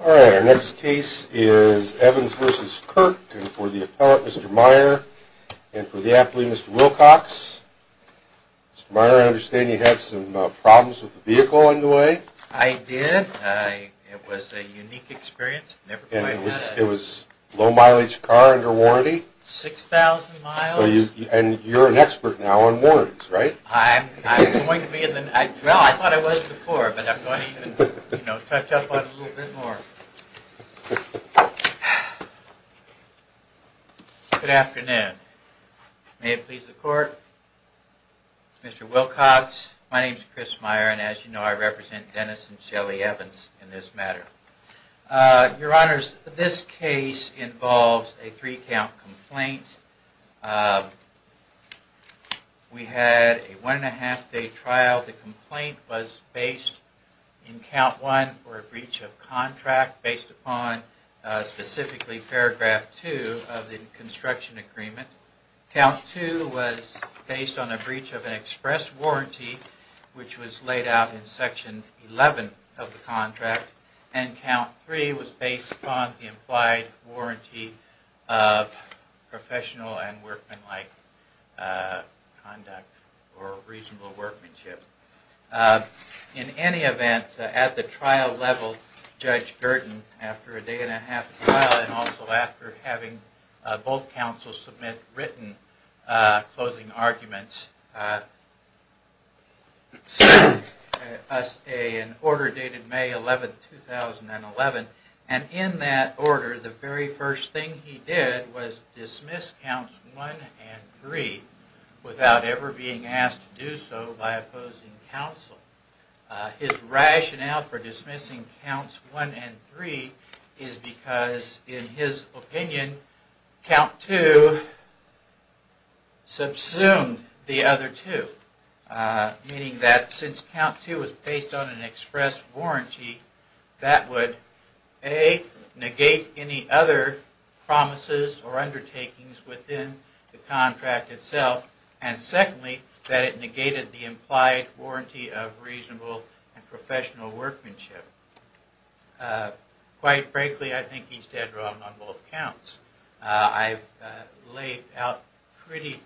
Alright, our next case is Evans v. Kirk and for the appellate Mr. Meyer and for the athlete Mr. Wilcox. Mr. Meyer, I understand you had some problems with the vehicle on the way? I did. It was a unique experience. Never quite had it. And it was low mileage car under warranty? 6,000 miles. And you're an expert now on warranties, right? Well, I thought I was before, but I'm going to even touch up on it a little bit more. Good afternoon. May it please the court. Mr. Wilcox, my name is Chris Meyer and as you know I represent Dennis and Shelley Evans in this matter. Your honors, this case involves a three count complaint. We had a one and a half day trial. The complaint was based in count one for a breach of contract based upon specifically paragraph two of the construction agreement. Count two was based on a breach of an express warranty which was laid out in section 11 of the contract. And count three was based upon the implied warranty of professional and workmanlike conduct or reasonable workmanship. In any event, at the trial level, Judge Gurdon, after a day and a half trial and also after having both counsels submit written closing arguments, sent us an order dated May 11, 2011. And in that order, the very first thing he did was dismiss counts one and three without ever being asked to do so by opposing counsel. His rationale for dismissing counts one and three is because, in his opinion, count two subsumed the other two. Meaning that since count two was based on an express warranty, that would, A, negate any other promises or undertakings within the contract itself. And secondly, that it negated the implied warranty of reasonable and professional workmanship. Quite frankly, I think he's dead wrong on both counts. I've laid out pretty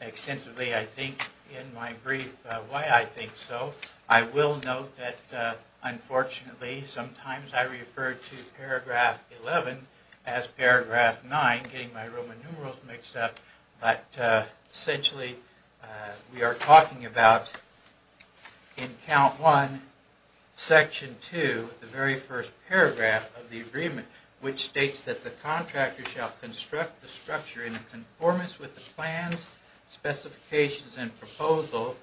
extensively, I think, in my brief why I think so. I will note that, unfortunately, sometimes I refer to paragraph 11 as paragraph 9, getting my Roman numerals mixed up. But essentially, we are talking about, in count one, section two, the very first paragraph of the agreement, which states that the contractor shall construct the structure in conformance with the plans, specifications, and proposal,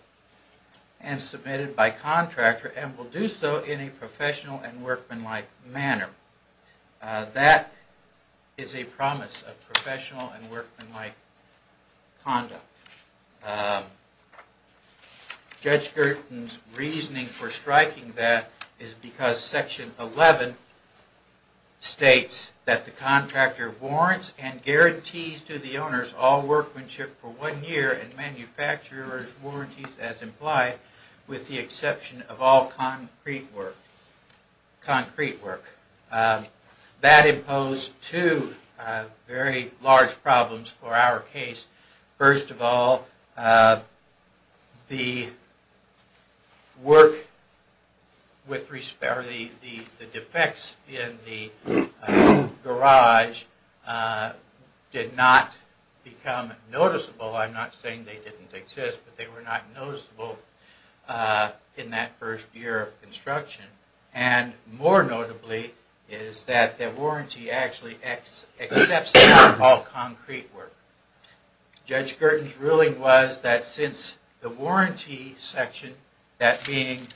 and submitted by contractor, and will do so in a professional and workmanlike manner. That is a promise of professional and workmanlike conduct. Judge Girton's reasoning for striking that is because section 11 states that the contractor warrants and guarantees to the owners all workmanship for one year and manufacturer's warranties as implied, with the exception of all concrete work. That imposed two very large problems for our case. First of all, the defects in the garage did not become noticeable. I'm not saying they didn't exist, but they were not noticeable in that first year of construction. And more notably, is that the warranty actually accepts all concrete work. Judge Girton's ruling was that since the warranty section, that being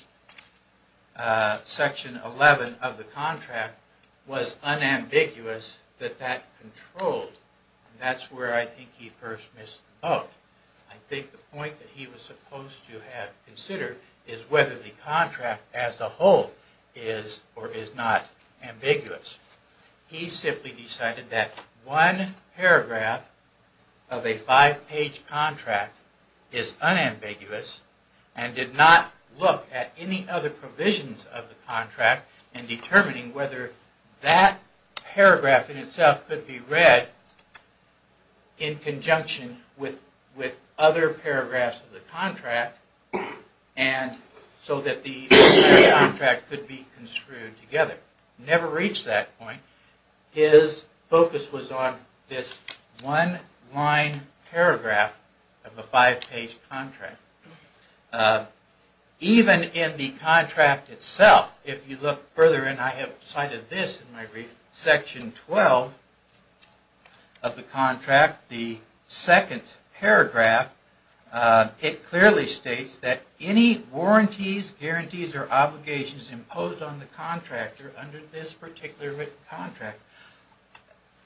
section 11 of the contract, was unambiguous, that that controlled. That's where I think he first missed the boat. I think the point that he was supposed to have considered is whether the contract as a whole is or is not ambiguous. He simply decided that one paragraph of a five-page contract is unambiguous and did not look at any other provisions of the contract in determining whether that paragraph in itself could be read in conjunction with other paragraphs of the contract, and so that the contract could be construed together. Never reached that point. His focus was on this one-line paragraph of a five-page contract. Even in the contract itself, if you look further, and I have cited this in my brief, section 12 of the contract, the second paragraph, it clearly states that any warranties, guarantees, or obligations imposed on the contractor under this particular written contract,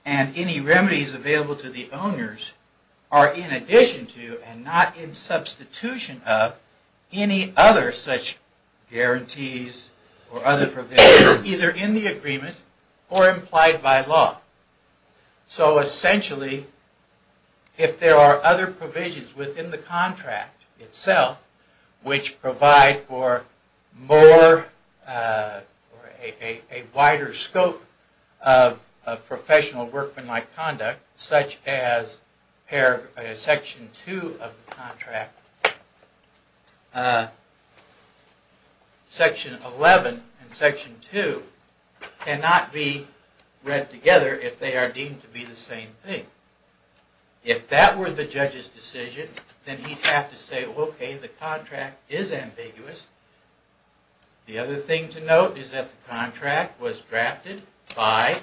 and any remedies available to the owners are in addition to and not in substitution of any other such guarantees or other provisions either in the agreement or implied by law. So essentially, if there are other provisions within the contract itself, which provide for a wider scope of professional workmanlike conduct, such as section two of the contract, section 11 and section two cannot be read together if they are deemed to be the same thing. If that were the judge's decision, then he'd have to say, okay, the contract is ambiguous. The other thing to note is that the contract was drafted by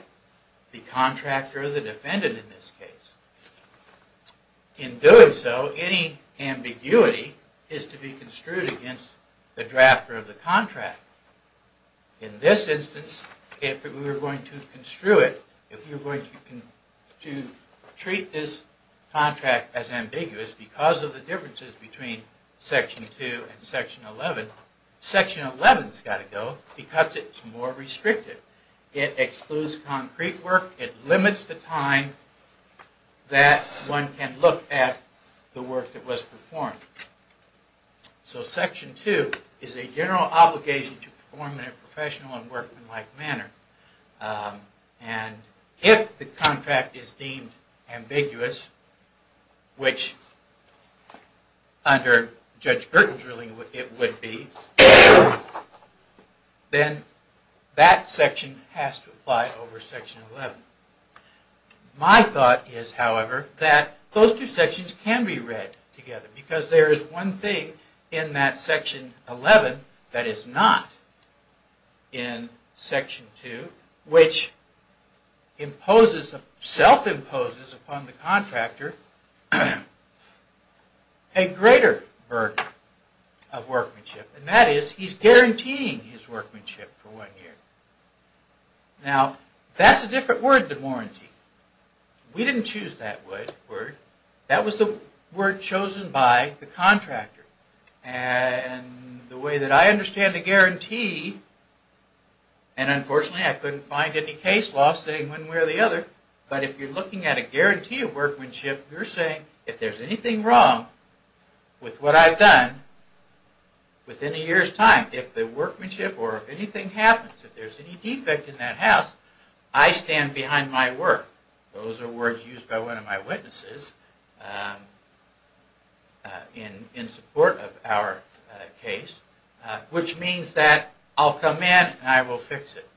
the contractor or the defendant in this case. In doing so, any ambiguity is to be construed against the drafter of the contract. In this instance, if we were going to construe it, if we were going to treat this contract as ambiguous because of the differences between section two and section 11, section 11's got to go because it's more restrictive. It excludes concrete work. It limits the time that one can look at the work that was performed. So section two is a general obligation to perform in a professional and workmanlike manner. And if the contract is deemed ambiguous, which under Judge Gertens' ruling it would be, then that section has to apply over section 11. My thought is, however, that those two sections can be read together because there is one thing in that section 11 that is not in section two, which self-imposes upon the contractor a greater burden of workmanship. And that is he's guaranteeing his workmanship for one year. Now, that's a different word than warranty. We didn't choose that word. That was the word chosen by the contractor. And the way that I understand the guarantee, and unfortunately I couldn't find any case law saying one way or the other, but if you're looking at a guarantee of workmanship, you're saying if there's anything wrong with what I've done within a year's time, if the workmanship or anything happens, if there's any defect in that house, I stand behind my work. Those are words used by one of my witnesses in support of our case, which means that I'll come in and I will fix it.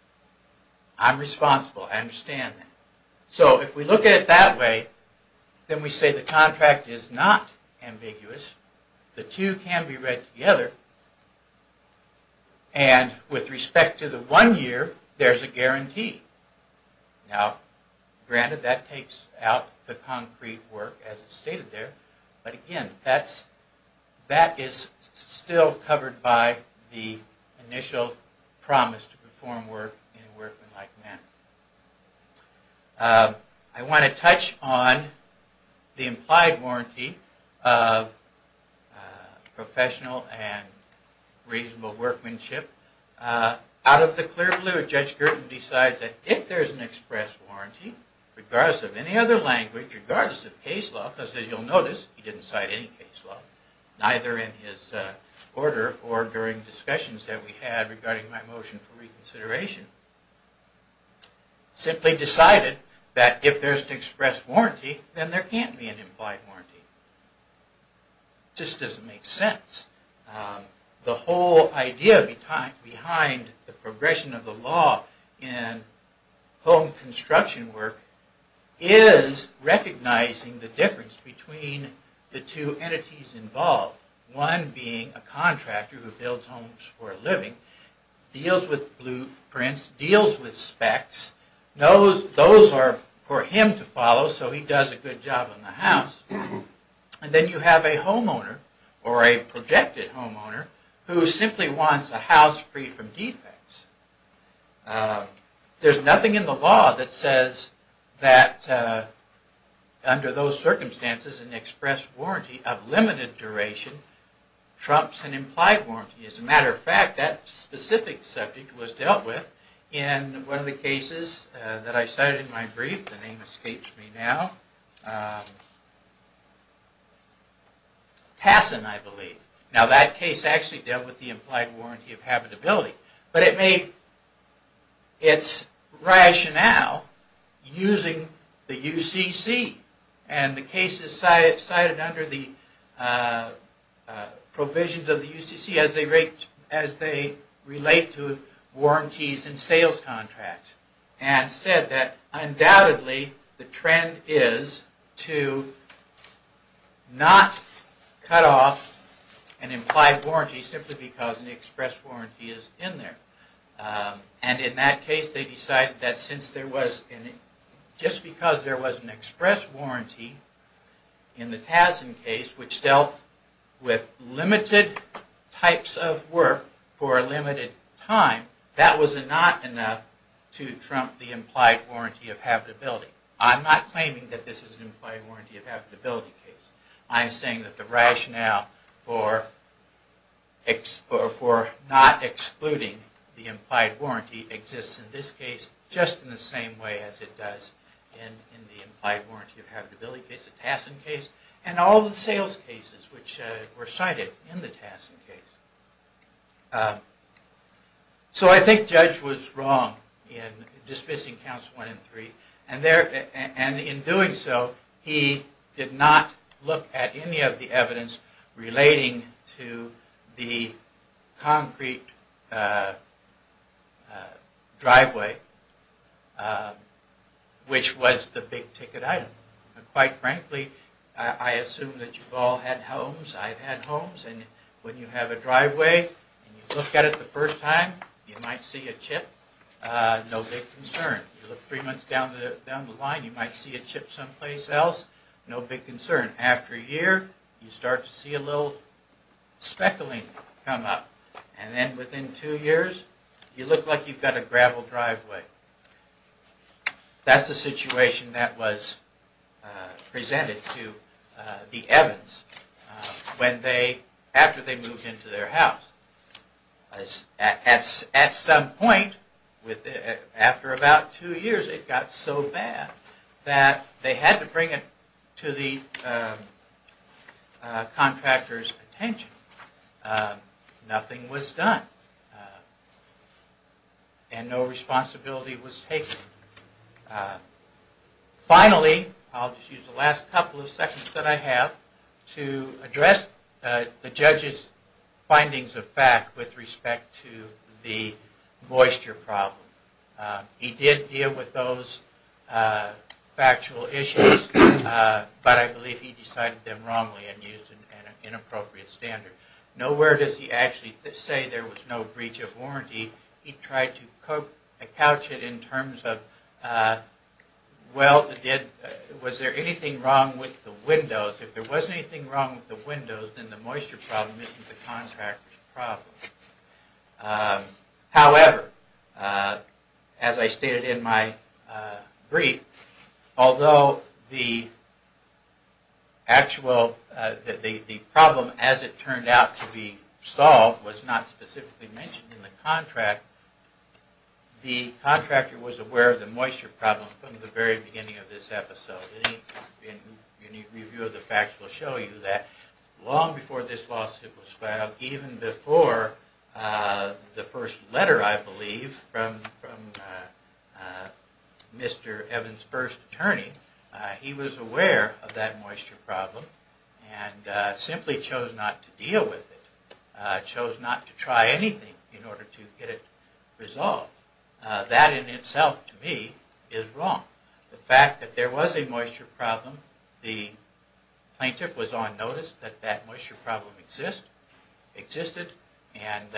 I'm responsible. I understand that. So if we look at it that way, then we say the contract is not ambiguous. The two can be read together. And with respect to the one year, there's a guarantee. Now, granted, that takes out the concrete work as it's stated there. But again, that is still covered by the initial promise to perform work in a workmanlike manner. I want to touch on the implied warranty of professional and reasonable workmanship. Out of the clear blue, Judge Girton decides that if there's an express warranty, regardless of any other language, regardless of case law, because as you'll notice, he didn't cite any case law, neither in his order or during discussions that we had regarding my motion for reconsideration, simply decided that if there's an express warranty, then there can't be an implied warranty. It just doesn't make sense. The whole idea behind the progression of the law in home construction work is recognizing the difference between the two entities involved. One being a contractor who builds homes for a living, deals with blueprints, deals with specs. Those are for him to follow, so he does a good job on the house. And then you have a homeowner, or a projected homeowner, who simply wants a house free from defects. There's nothing in the law that says that under those circumstances, an express warranty of limited duration trumps an implied warranty. As a matter of fact, that specific subject was dealt with in one of the cases that I cited in my brief. The name escapes me now. Tassin, I believe. Now that case actually dealt with the implied warranty of habitability, but it made its rationale using the UCC. And the case is cited under the provisions of the UCC as they relate to warranties and sales contracts. And said that undoubtedly the trend is to not cut off an implied warranty simply because an express warranty is in there. And in that case, they decided that since there was, just because there was an express warranty in the Tassin case, which dealt with limited types of work for a limited time, that was not enough to trump the implied warranty of habitability. I'm not claiming that this is an implied warranty of habitability case. I'm saying that the rationale for not excluding the implied warranty exists in this case just in the same way as it does in the implied warranty of habitability case, the Tassin case, and all the sales cases which were cited in the Tassin case. So I think Judge was wrong in dismissing counts one and three. And in doing so, he did not look at any of the evidence relating to the concrete driveway, which was the big ticket item. And quite frankly, I assume that you've all had homes. I've had homes. And when you have a driveway and you look at it the first time, you might see a chip, no big concern. You look three months down the line, you might see a chip someplace else, no big concern. After a year, you start to see a little speckling come up. And then within two years, you look like you've got a gravel driveway. That's the situation that was presented to the Evans when they, after they moved into their house. At some point, after about two years, it got so bad that they had to bring it to the contractor's attention. Nothing was done. And no responsibility was taken. Finally, I'll just use the last couple of seconds that I have to address the judge's findings of fact with respect to the moisture problem. He did deal with those factual issues, but I believe he decided them wrongly and used an inappropriate standard. Nowhere does he actually say there was no breach of warranty. He tried to couch it in terms of, well, was there anything wrong with the windows? If there wasn't anything wrong with the windows, then the moisture problem isn't the contractor's problem. However, as I stated in my brief, although the actual, the problem as it turned out to be solved was not specifically mentioned in the contract, the contractor was aware of the moisture problem from the very beginning of this episode. Any review of the facts will show you that long before this lawsuit was filed, even before the first letter, I believe, from Mr. Evans' first attorney, he was aware of that moisture problem and simply chose not to deal with it. Chose not to try anything in order to get it resolved. That in itself, to me, is wrong. The fact that there was a moisture problem, the plaintiff was on notice that that moisture problem exists, existed, and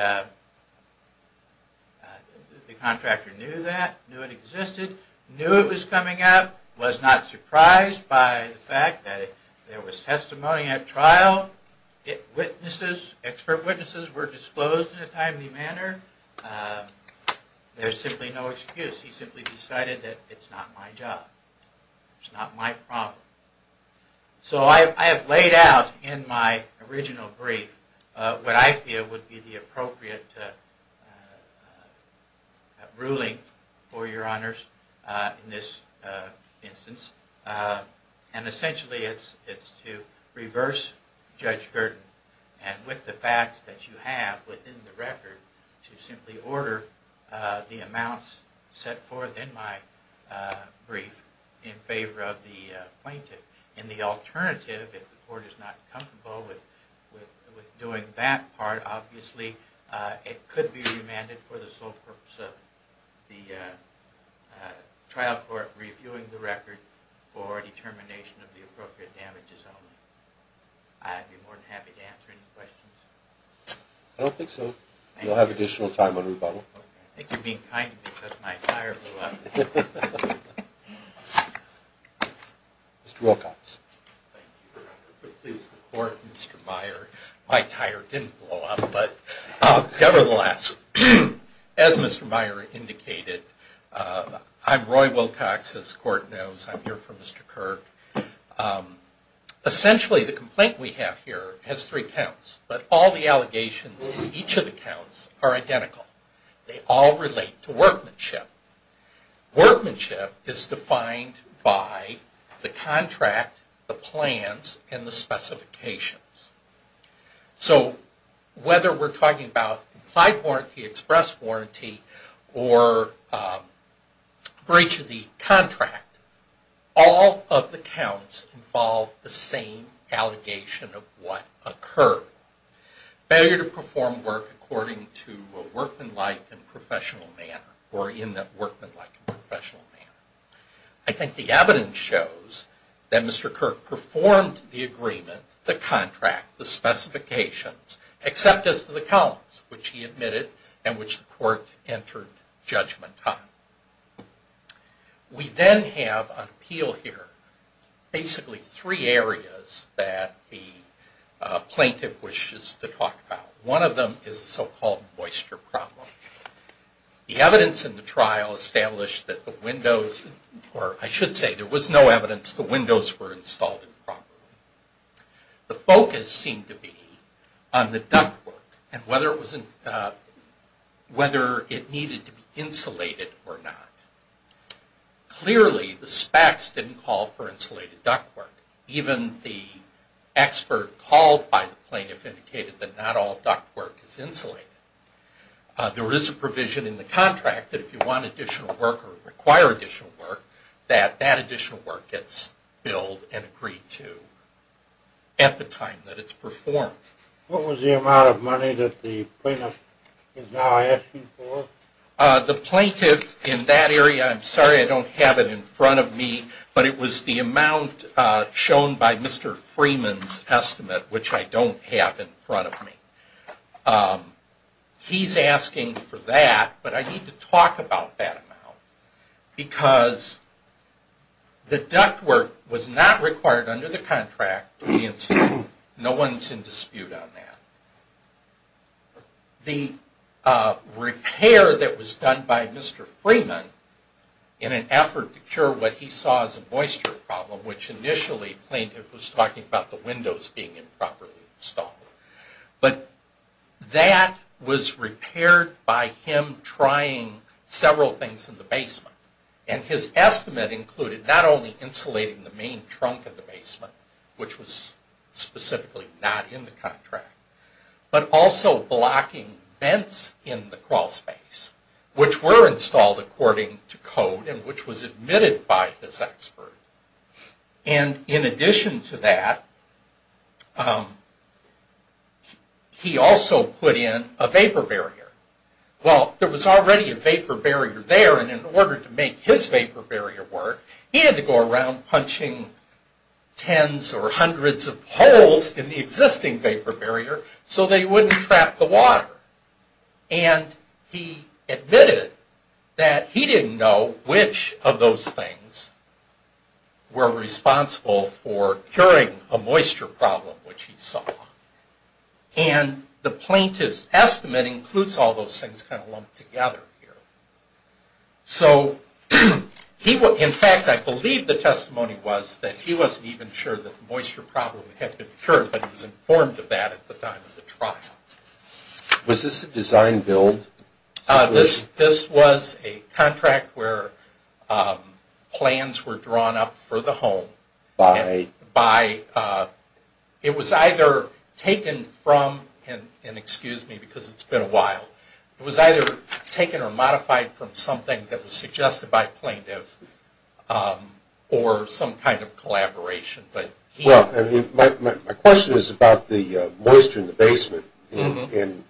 the contractor knew that, knew it existed, knew it was coming up, was not surprised by the fact that there was testimony at trial, witnesses, expert witnesses were disclosed in a timely manner, there's simply no excuse. He simply decided that it's not my job. It's not my problem. So I have laid out in my original brief what I feel would be the appropriate ruling for your honors in this instance. And essentially it's to reverse Judge Gurdon and with the facts that you have within the record, to simply order the amounts set forth in my brief in favor of the plaintiff. In the alternative, if the court is not comfortable with doing that part, it could be remanded for the sole purpose of the trial court reviewing the record for determination of the appropriate damages. I'd be more than happy to answer any questions. I don't think so. You'll have additional time on rebuttal. I think you're being kind because my tire blew up. Mr. Wilcox. Thank you, Your Honor. Please support Mr. Meyer. My tire didn't blow up, but nevertheless, as Mr. Meyer indicated, I'm Roy Wilcox, as the court knows. I'm here for Mr. Kirk. Essentially the complaint we have here has three counts, but all the allegations in each of the counts are identical. They all relate to workmanship. Workmanship is defined by the contract, the plans, and the specifications. So whether we're talking about implied warranty, express warranty, or breach of the contract, all of the counts involve the same allegation of what occurred. Failure to perform work according to a workmanlike and professional manner, or in that workmanlike and professional manner. I think the evidence shows that Mr. Kirk performed the agreement, the contract, the specifications, except as to the counts which he admitted and which the court entered judgment on. We then have on appeal here basically three areas that the plaintiff wishes to talk about. One of them is the so-called moisture problem. The evidence in the trial established that the windows, or I should say there was no evidence the windows were installed improperly. The focus seemed to be on the ductwork and whether it needed to be insulated or not. Clearly the SPACs didn't call for insulated ductwork. Even the expert called by the plaintiff indicated that not all ductwork is insulated. There is a provision in the contract that if you want additional work or require additional work, that that additional work gets billed and agreed to at the time that it's performed. What was the amount of money that the plaintiff is now asking for? The plaintiff in that area, I'm sorry I don't have it in front of me, but it was the amount shown by Mr. Freeman's estimate, which I don't have in front of me. He's asking for that, but I need to talk about that amount, because the ductwork was not required under the contract to be insulated. No one's in dispute on that. The repair that was done by Mr. Freeman in an effort to cure what he saw as a moisture problem, which initially the plaintiff was talking about the windows being improperly installed. But that was repaired by him trying several things in the basement. And his estimate included not only insulating the main trunk of the basement, which was specifically not in the contract, but also blocking vents in the crawl space, which were installed according to code and which was admitted by this expert. And in addition to that, he also put in a vapor barrier. Well, there was already a vapor barrier there, and in order to make his vapor barrier work, he had to go around punching tens or hundreds of holes in the existing vapor barrier so they wouldn't trap the water. And he admitted that he didn't know which of those things were responsible for curing a moisture problem, which he saw. And the plaintiff's estimate includes all those things kind of lumped together here. So in fact, I believe the testimony was that he wasn't even sure that the moisture problem had been cured, but he was informed of that at the time of the trial. Was this a design build? This was a contract where plans were drawn up for the home. It was either taken from, and excuse me because it's been a while, it was either taken or modified from something that was suggested by a plaintiff or some kind of collaboration. Well, my question is about the moisture in the basement, and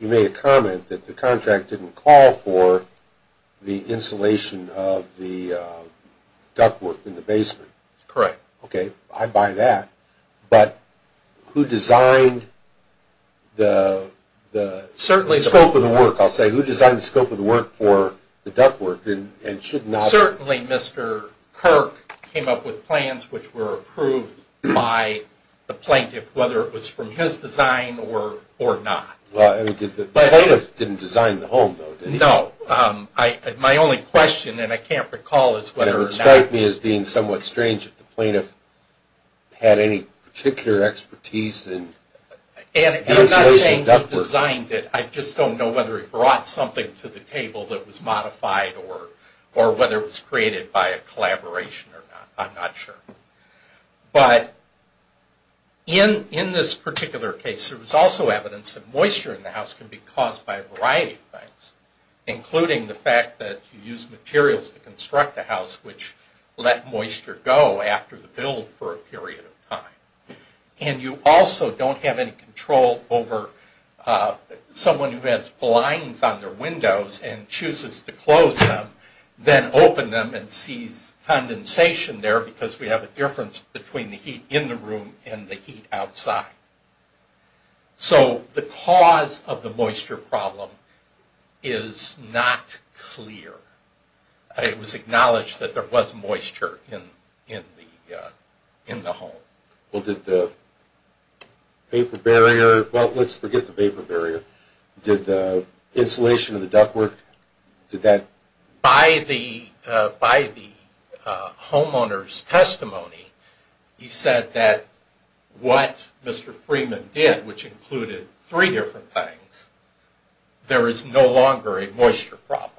you made a comment that the contract didn't call for the insulation of the ductwork in the basement. Correct. Okay, I buy that. But who designed the scope of the work, I'll say, who designed the scope of the work for the ductwork and should not? Certainly Mr. Kirk came up with plans which were approved by the plaintiff, whether it was from his design or not. The plaintiff didn't design the home, though, did he? No. My only question, and I can't recall, is whether or not. It would strike me as being somewhat strange if the plaintiff had any particular expertise in insulation ductwork. And I'm not saying he designed it. I just don't know whether he brought something to the table that was modified or whether it was created by a collaboration or not. I'm not sure. But in this particular case, there was also evidence that moisture in the house can be caused by a variety of things, including the fact that you use materials to construct a house which let moisture go after the build for a period of time. And you also don't have any control over someone who has blinds on their windows and chooses to close them, then open them and sees condensation there because we have a difference between the heat in the room and the heat outside. So the cause of the moisture problem is not clear. It was acknowledged that there was moisture in the home. Well, did the vapor barrier, well, let's forget the vapor barrier. Did the insulation of the ductwork, did that? By the homeowner's testimony, he said that what Mr. Freeman did, which included three different things, there is no longer a moisture problem.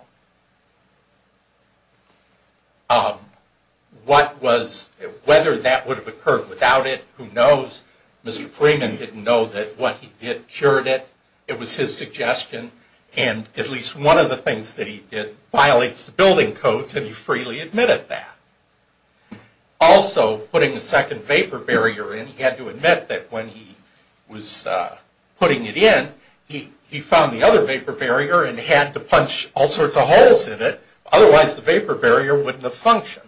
What was, whether that would have occurred without it, who knows. Mr. Freeman didn't know that what he did cured it. It was his suggestion. And at least one of the things that he did violates the building codes, and he freely admitted that. Also, putting a second vapor barrier in, he had to admit that when he was putting it in, he found the other vapor barrier and had to punch all sorts of holes in it. Otherwise, the vapor barrier wouldn't have functioned.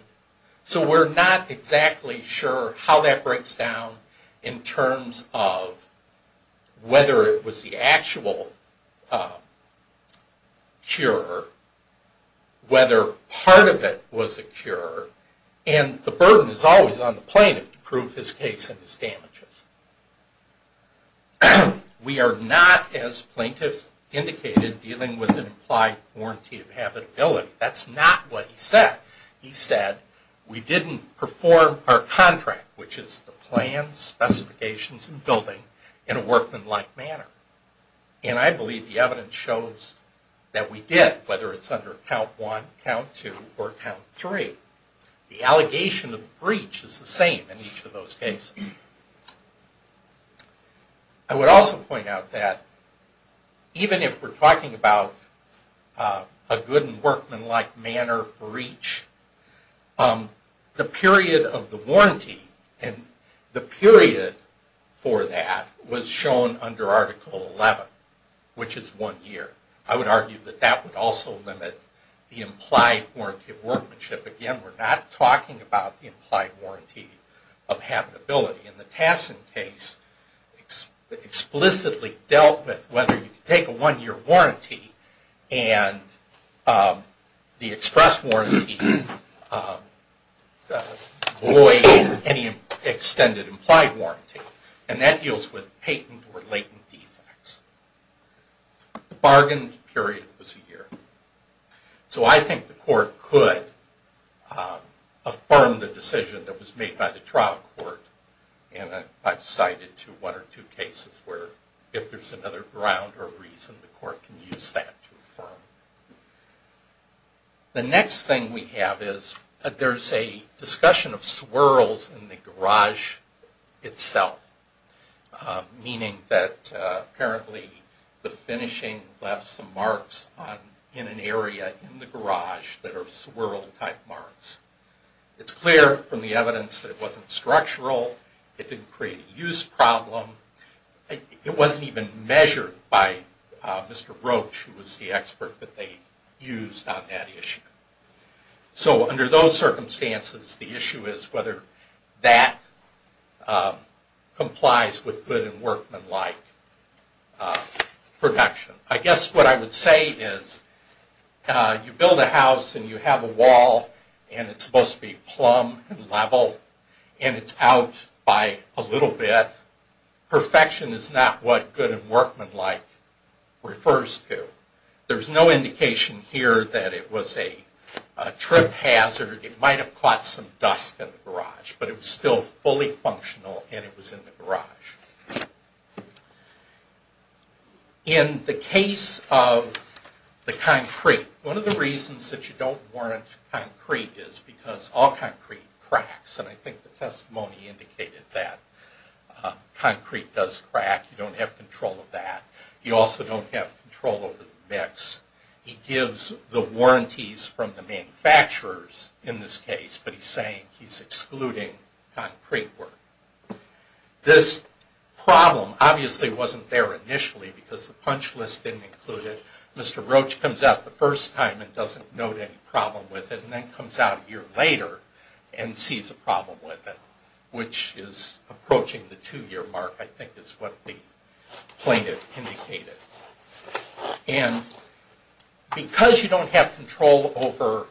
So we're not exactly sure how that breaks down in terms of whether it was the actual cure, whether part of it was the cure. And the burden is always on the plaintiff to prove his case and his damages. We are not, as plaintiff indicated, dealing with an implied warranty of habitability. That's not what he said. He said, we didn't perform our contract, which is the plans, specifications, and building, in a workmanlike manner. And I believe the evidence shows that we did, whether it's under Count 1, Count 2, or Count 3. The allegation of breach is the same in each of those cases. I would also point out that even if we're talking about a good and workmanlike manner breach, the period of the warranty and the period for that was shown under Article 11, which is one year. I would argue that that would also limit the implied warranty of workmanship. Again, we're not talking about the implied warranty of habitability. And the Tassin case explicitly dealt with whether you could take a one-year warranty and the express warranty void any extended implied warranty. And that deals with patent or latent defects. The bargain period was a year. So I think the court could affirm the decision that was made by the trial court. I've cited one or two cases where if there's another ground or reason, the court can use that to affirm. The next thing we have is there's a discussion of swirls in the garage itself. Meaning that apparently the finishing left some marks in an area in the garage that are swirl-type marks. It's clear from the evidence that it wasn't structural. It didn't create a use problem. It wasn't even measured by Mr. Roach, who was the expert that they used on that issue. So under those circumstances, the issue is whether that complies with good and workmanlike protection. I guess what I would say is you build a house and you have a wall. And it's supposed to be plumb and level. And it's out by a little bit. Perfection is not what good and workmanlike refers to. There's no indication here that it was a trip hazard. It might have caught some dust in the garage. But it was still fully functional and it was in the garage. In the case of the concrete, one of the reasons that you don't warrant concrete is because all concrete cracks. And I think the testimony indicated that. Concrete does crack. You don't have control of that. You also don't have control over the mix. He gives the warranties from the manufacturers in this case, but he's saying he's excluding concrete work. This problem obviously wasn't there initially because the punch list didn't include it. Mr. Roach comes out the first time and doesn't note any problem with it. And then comes out a year later and sees a problem with it. Which is approaching the two-year mark, I think is what the plaintiff indicated. And because you don't have control over...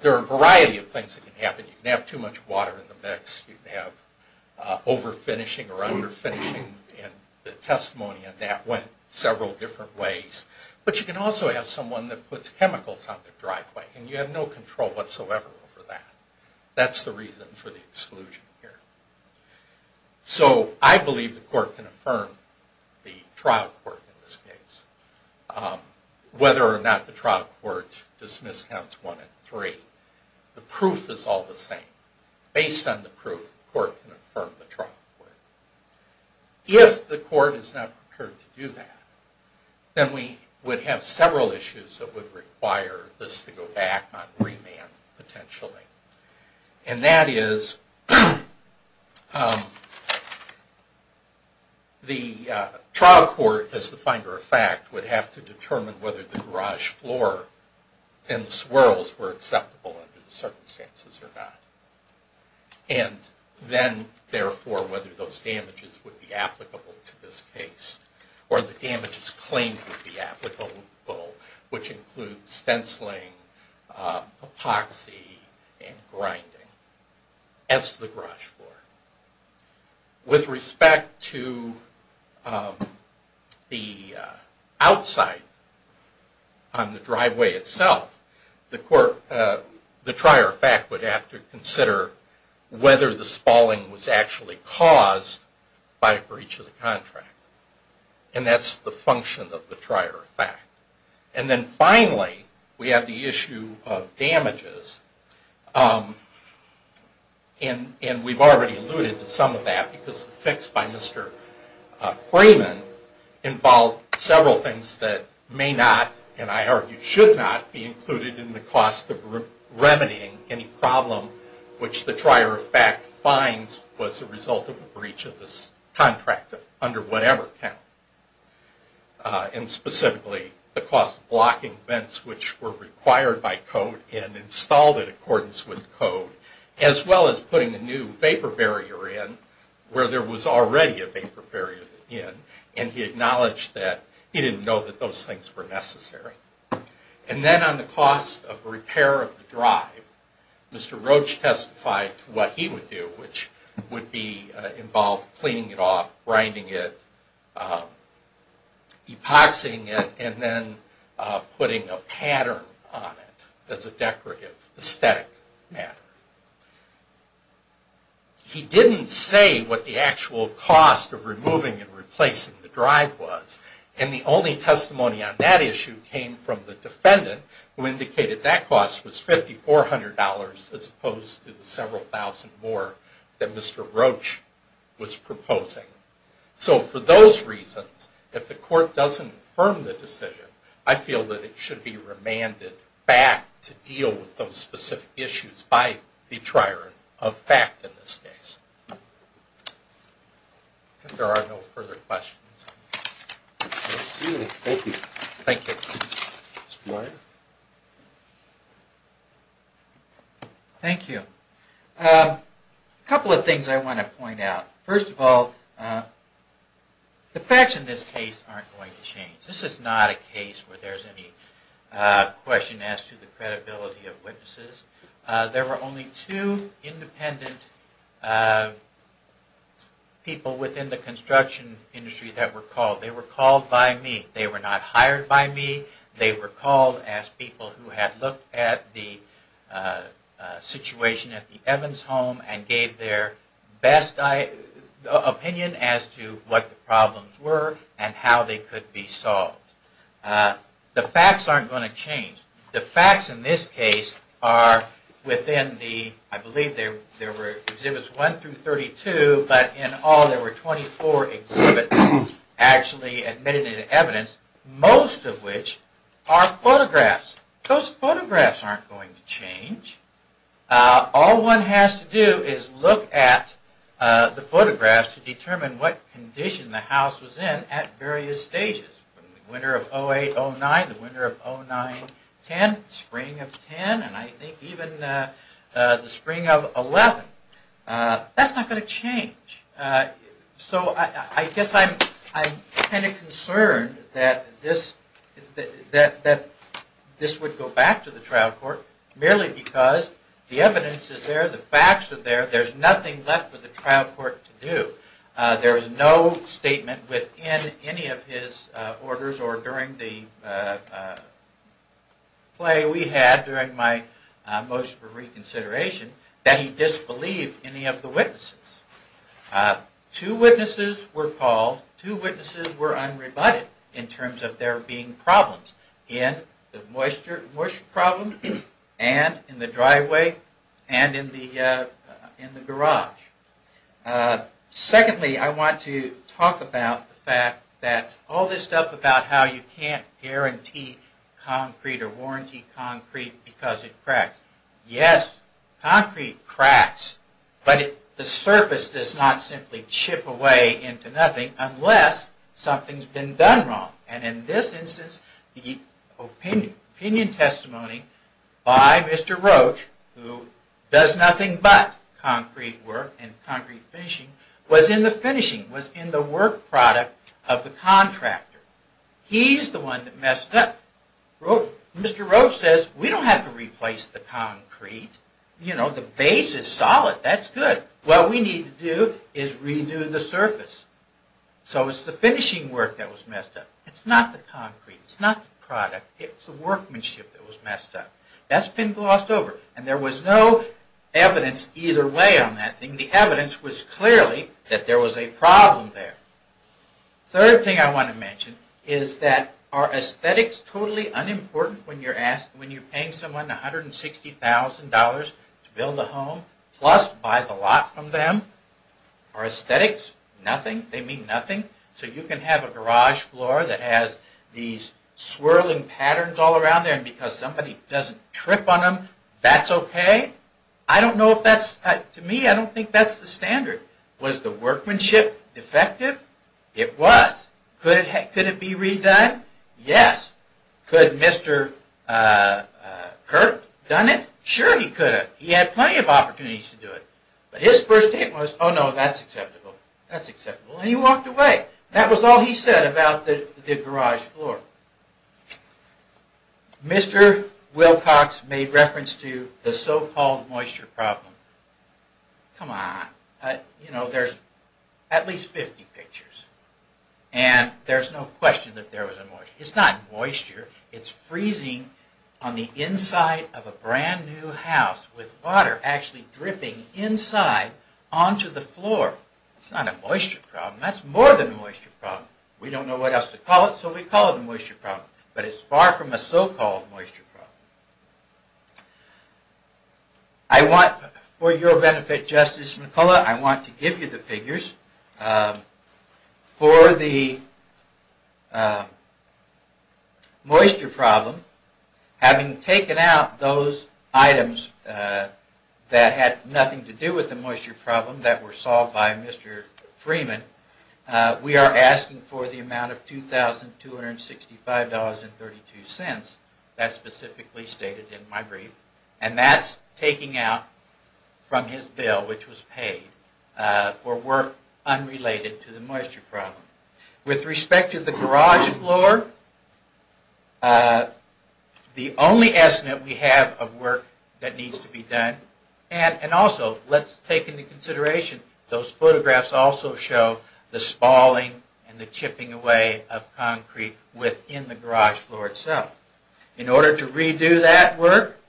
There are a variety of things that can happen. You can have too much water in the mix. You can have over-finishing or under-finishing. And the testimony on that went several different ways. But you can also have someone that puts chemicals on the driveway. And you have no control whatsoever over that. That's the reason for the exclusion here. So I believe the court can affirm the trial court in this case. Whether or not the trial court dismisses counts one and three. The proof is all the same. Based on the proof, the court can affirm the trial court. If the court is not prepared to do that, then we would have several issues that would require this to go back on remand potentially. And that is... The trial court, as the finder of fact, would have to determine whether the garage floor and the swirls were acceptable under the circumstances or not. And then, therefore, whether those damages would be applicable to this case. Or the damages claimed would be applicable, which includes stenciling, epoxy, and grinding. As to the garage floor. With respect to the outside on the driveway itself, the trier of fact would have to consider whether the spalling was actually caused by a breach of the contract. And that's the function of the trier of fact. And then, finally, we have the issue of damages. And we've already alluded to some of that because the fix by Mr. Freeman involved several things that may not, and I argue should not, be included in the cost of remedying any problem which the trier of fact finds was a result of a breach of this contract under whatever account. And specifically, the cost of blocking vents which were required by code and installed in accordance with code. As well as putting a new vapor barrier in where there was already a vapor barrier in. And he acknowledged that he didn't know that those things were necessary. And then on the cost of repair of the drive, Mr. Roach testified to what he would do, which would be involved cleaning it off, grinding it, epoxying it, and then putting a pattern on it as a decorative aesthetic matter. He didn't say what the actual cost of removing and replacing the drive was. And the only testimony on that issue came from the defendant who indicated that cost was $5,400 as opposed to the several thousand more that Mr. Roach was proposing. So for those reasons, if the court doesn't affirm the decision, I feel that it should be remanded back to deal with those specific issues by the trier of fact in this case. If there are no further questions. Thank you. Thank you. A couple of things I want to point out. First of all, the facts in this case aren't going to change. This is not a case where there's any question as to the credibility of witnesses. There were only two independent people within the construction industry that were called. They were called by me. They were not hired by me. They were called as people who had looked at the situation at the Evans home and gave their best opinion as to what the problems were and how they could be solved. The facts aren't going to change. The facts in this case are within the... I believe there were Exhibits 1 through 32, but in all there were 24 exhibits actually admitted in evidence, Those photographs aren't going to change. All one has to do is look at the photographs to determine what condition the house was in at various stages. Winter of 08, 09, winter of 09, 10, spring of 10, and I think even the spring of 11. That's not going to change. So I guess I'm kind of concerned that this would go back to the trial court merely because the evidence is there, the facts are there, there's nothing left for the trial court to do. There is no statement within any of his orders or during the play we had during my motion for reconsideration that he disbelieved any of the witnesses. Two witnesses were called. Two witnesses were unrebutted in terms of there being problems in the moisture problem and in the driveway and in the garage. Secondly, I want to talk about the fact that all this stuff about how you can't guarantee concrete or warranty concrete because it cracks. Yes, concrete cracks, but the surface does not simply chip away into nothing unless something's been done wrong. And in this instance, the opinion testimony by Mr. Roach, who does nothing but concrete work and concrete finishing, was in the finishing, was in the work product of the contractor. He's the one that messed up. Mr. Roach says, we don't have to replace the concrete. You know, the base is solid, that's good. What we need to do is redo the surface. So it's the finishing work that was messed up. It's not the concrete. It's not the product. It's the workmanship that was messed up. That's been glossed over. And there was no evidence either way on that thing. The evidence was clearly that there was a problem there. Third thing I want to mention is that are aesthetics totally unimportant when you're paying someone $160,000 to build a home, plus buy the lot from them? Are aesthetics nothing? They mean nothing? So you can have a garage floor that has these swirling patterns all around there and because somebody doesn't trip on them, that's okay? I don't know if that's, to me, I don't think that's the standard. Was the workmanship defective? It was. Could it be redone? Yes. Could Mr. Kirk done it? Sure he could have. He had plenty of opportunities to do it. But his first statement was, oh no, that's acceptable. That's acceptable. And he walked away. That was all he said about the garage floor. Mr. Wilcox made reference to the so-called moisture problem. Come on. You know, there's at least 50 pictures. And there's no question that there was a moisture problem. It's not moisture. It's freezing on the inside of a brand new house with water actually dripping inside onto the floor. It's not a moisture problem. That's more than a moisture problem. We don't know what else to call it, so we call it a moisture problem. But it's far from a so-called moisture problem. I want, for your benefit, Justice McCullough, I want to give you the figures. For the moisture problem, having taken out those items that had nothing to do with the moisture problem that were solved by Mr. Freeman, we are asking for the amount of $2,265.32. That's specifically stated in my brief. And that's taking out from his bill which was paid for work unrelated to the moisture problem. With respect to the garage floor, the only estimate we have of work that needs to be done, and also let's take into consideration those photographs also show the spalling and the chipping away of concrete within the garage floor itself. In order to redo that work,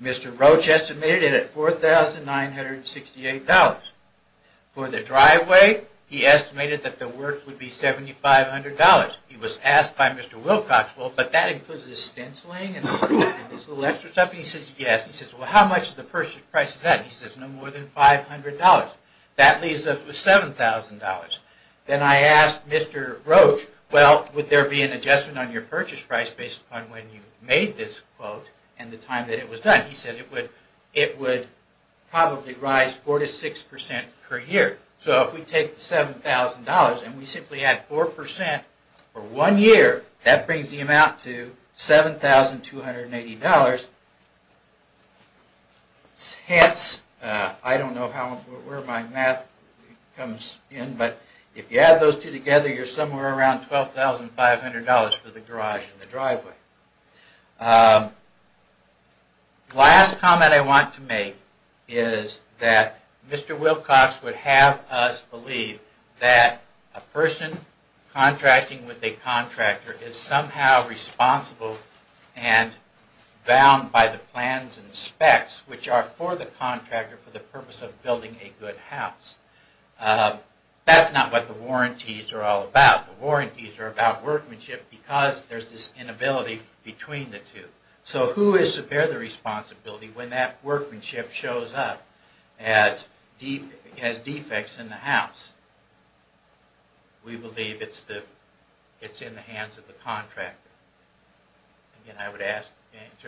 Mr. Roach estimated it at $4,968. For the driveway, he estimated that the work would be $7,500. He was asked by Mr. Wilcox, well, but that includes the stenciling and this little extra stuff. He says, yes. He says, well, how much is the purchase price of that? He says, no more than $500. That leaves us with $7,000. Then I asked Mr. Roach, well, would there be an adjustment on your purchase price based upon when you made this quote and the time that it was done? He said it would probably rise 4% to 6% per year. So if we take the $7,000 and we simply add 4% for one year, that brings the amount to $7,280. Hence, I don't know where my math comes in, but if you add those two together, you're somewhere around $12,500 for the garage and the driveway. The last comment I want to make is that Mr. Wilcox would have us believe that a person contracting with a contractor is somehow responsible and bound by the plans and specs which are for the contractor for the purpose of building a good house. That's not what the warranties are all about. The warranties are about workmanship because there's this inability between the two. So who is to bear the responsibility when that workmanship shows up as defects in the house? We believe it's in the hands of the contractor. Again, I would answer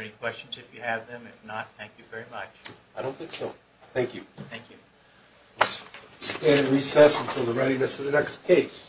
any questions if you have them. If not, thank you very much. I don't think so. Thank you. Thank you. Let's stand and recess until the readiness of the next case.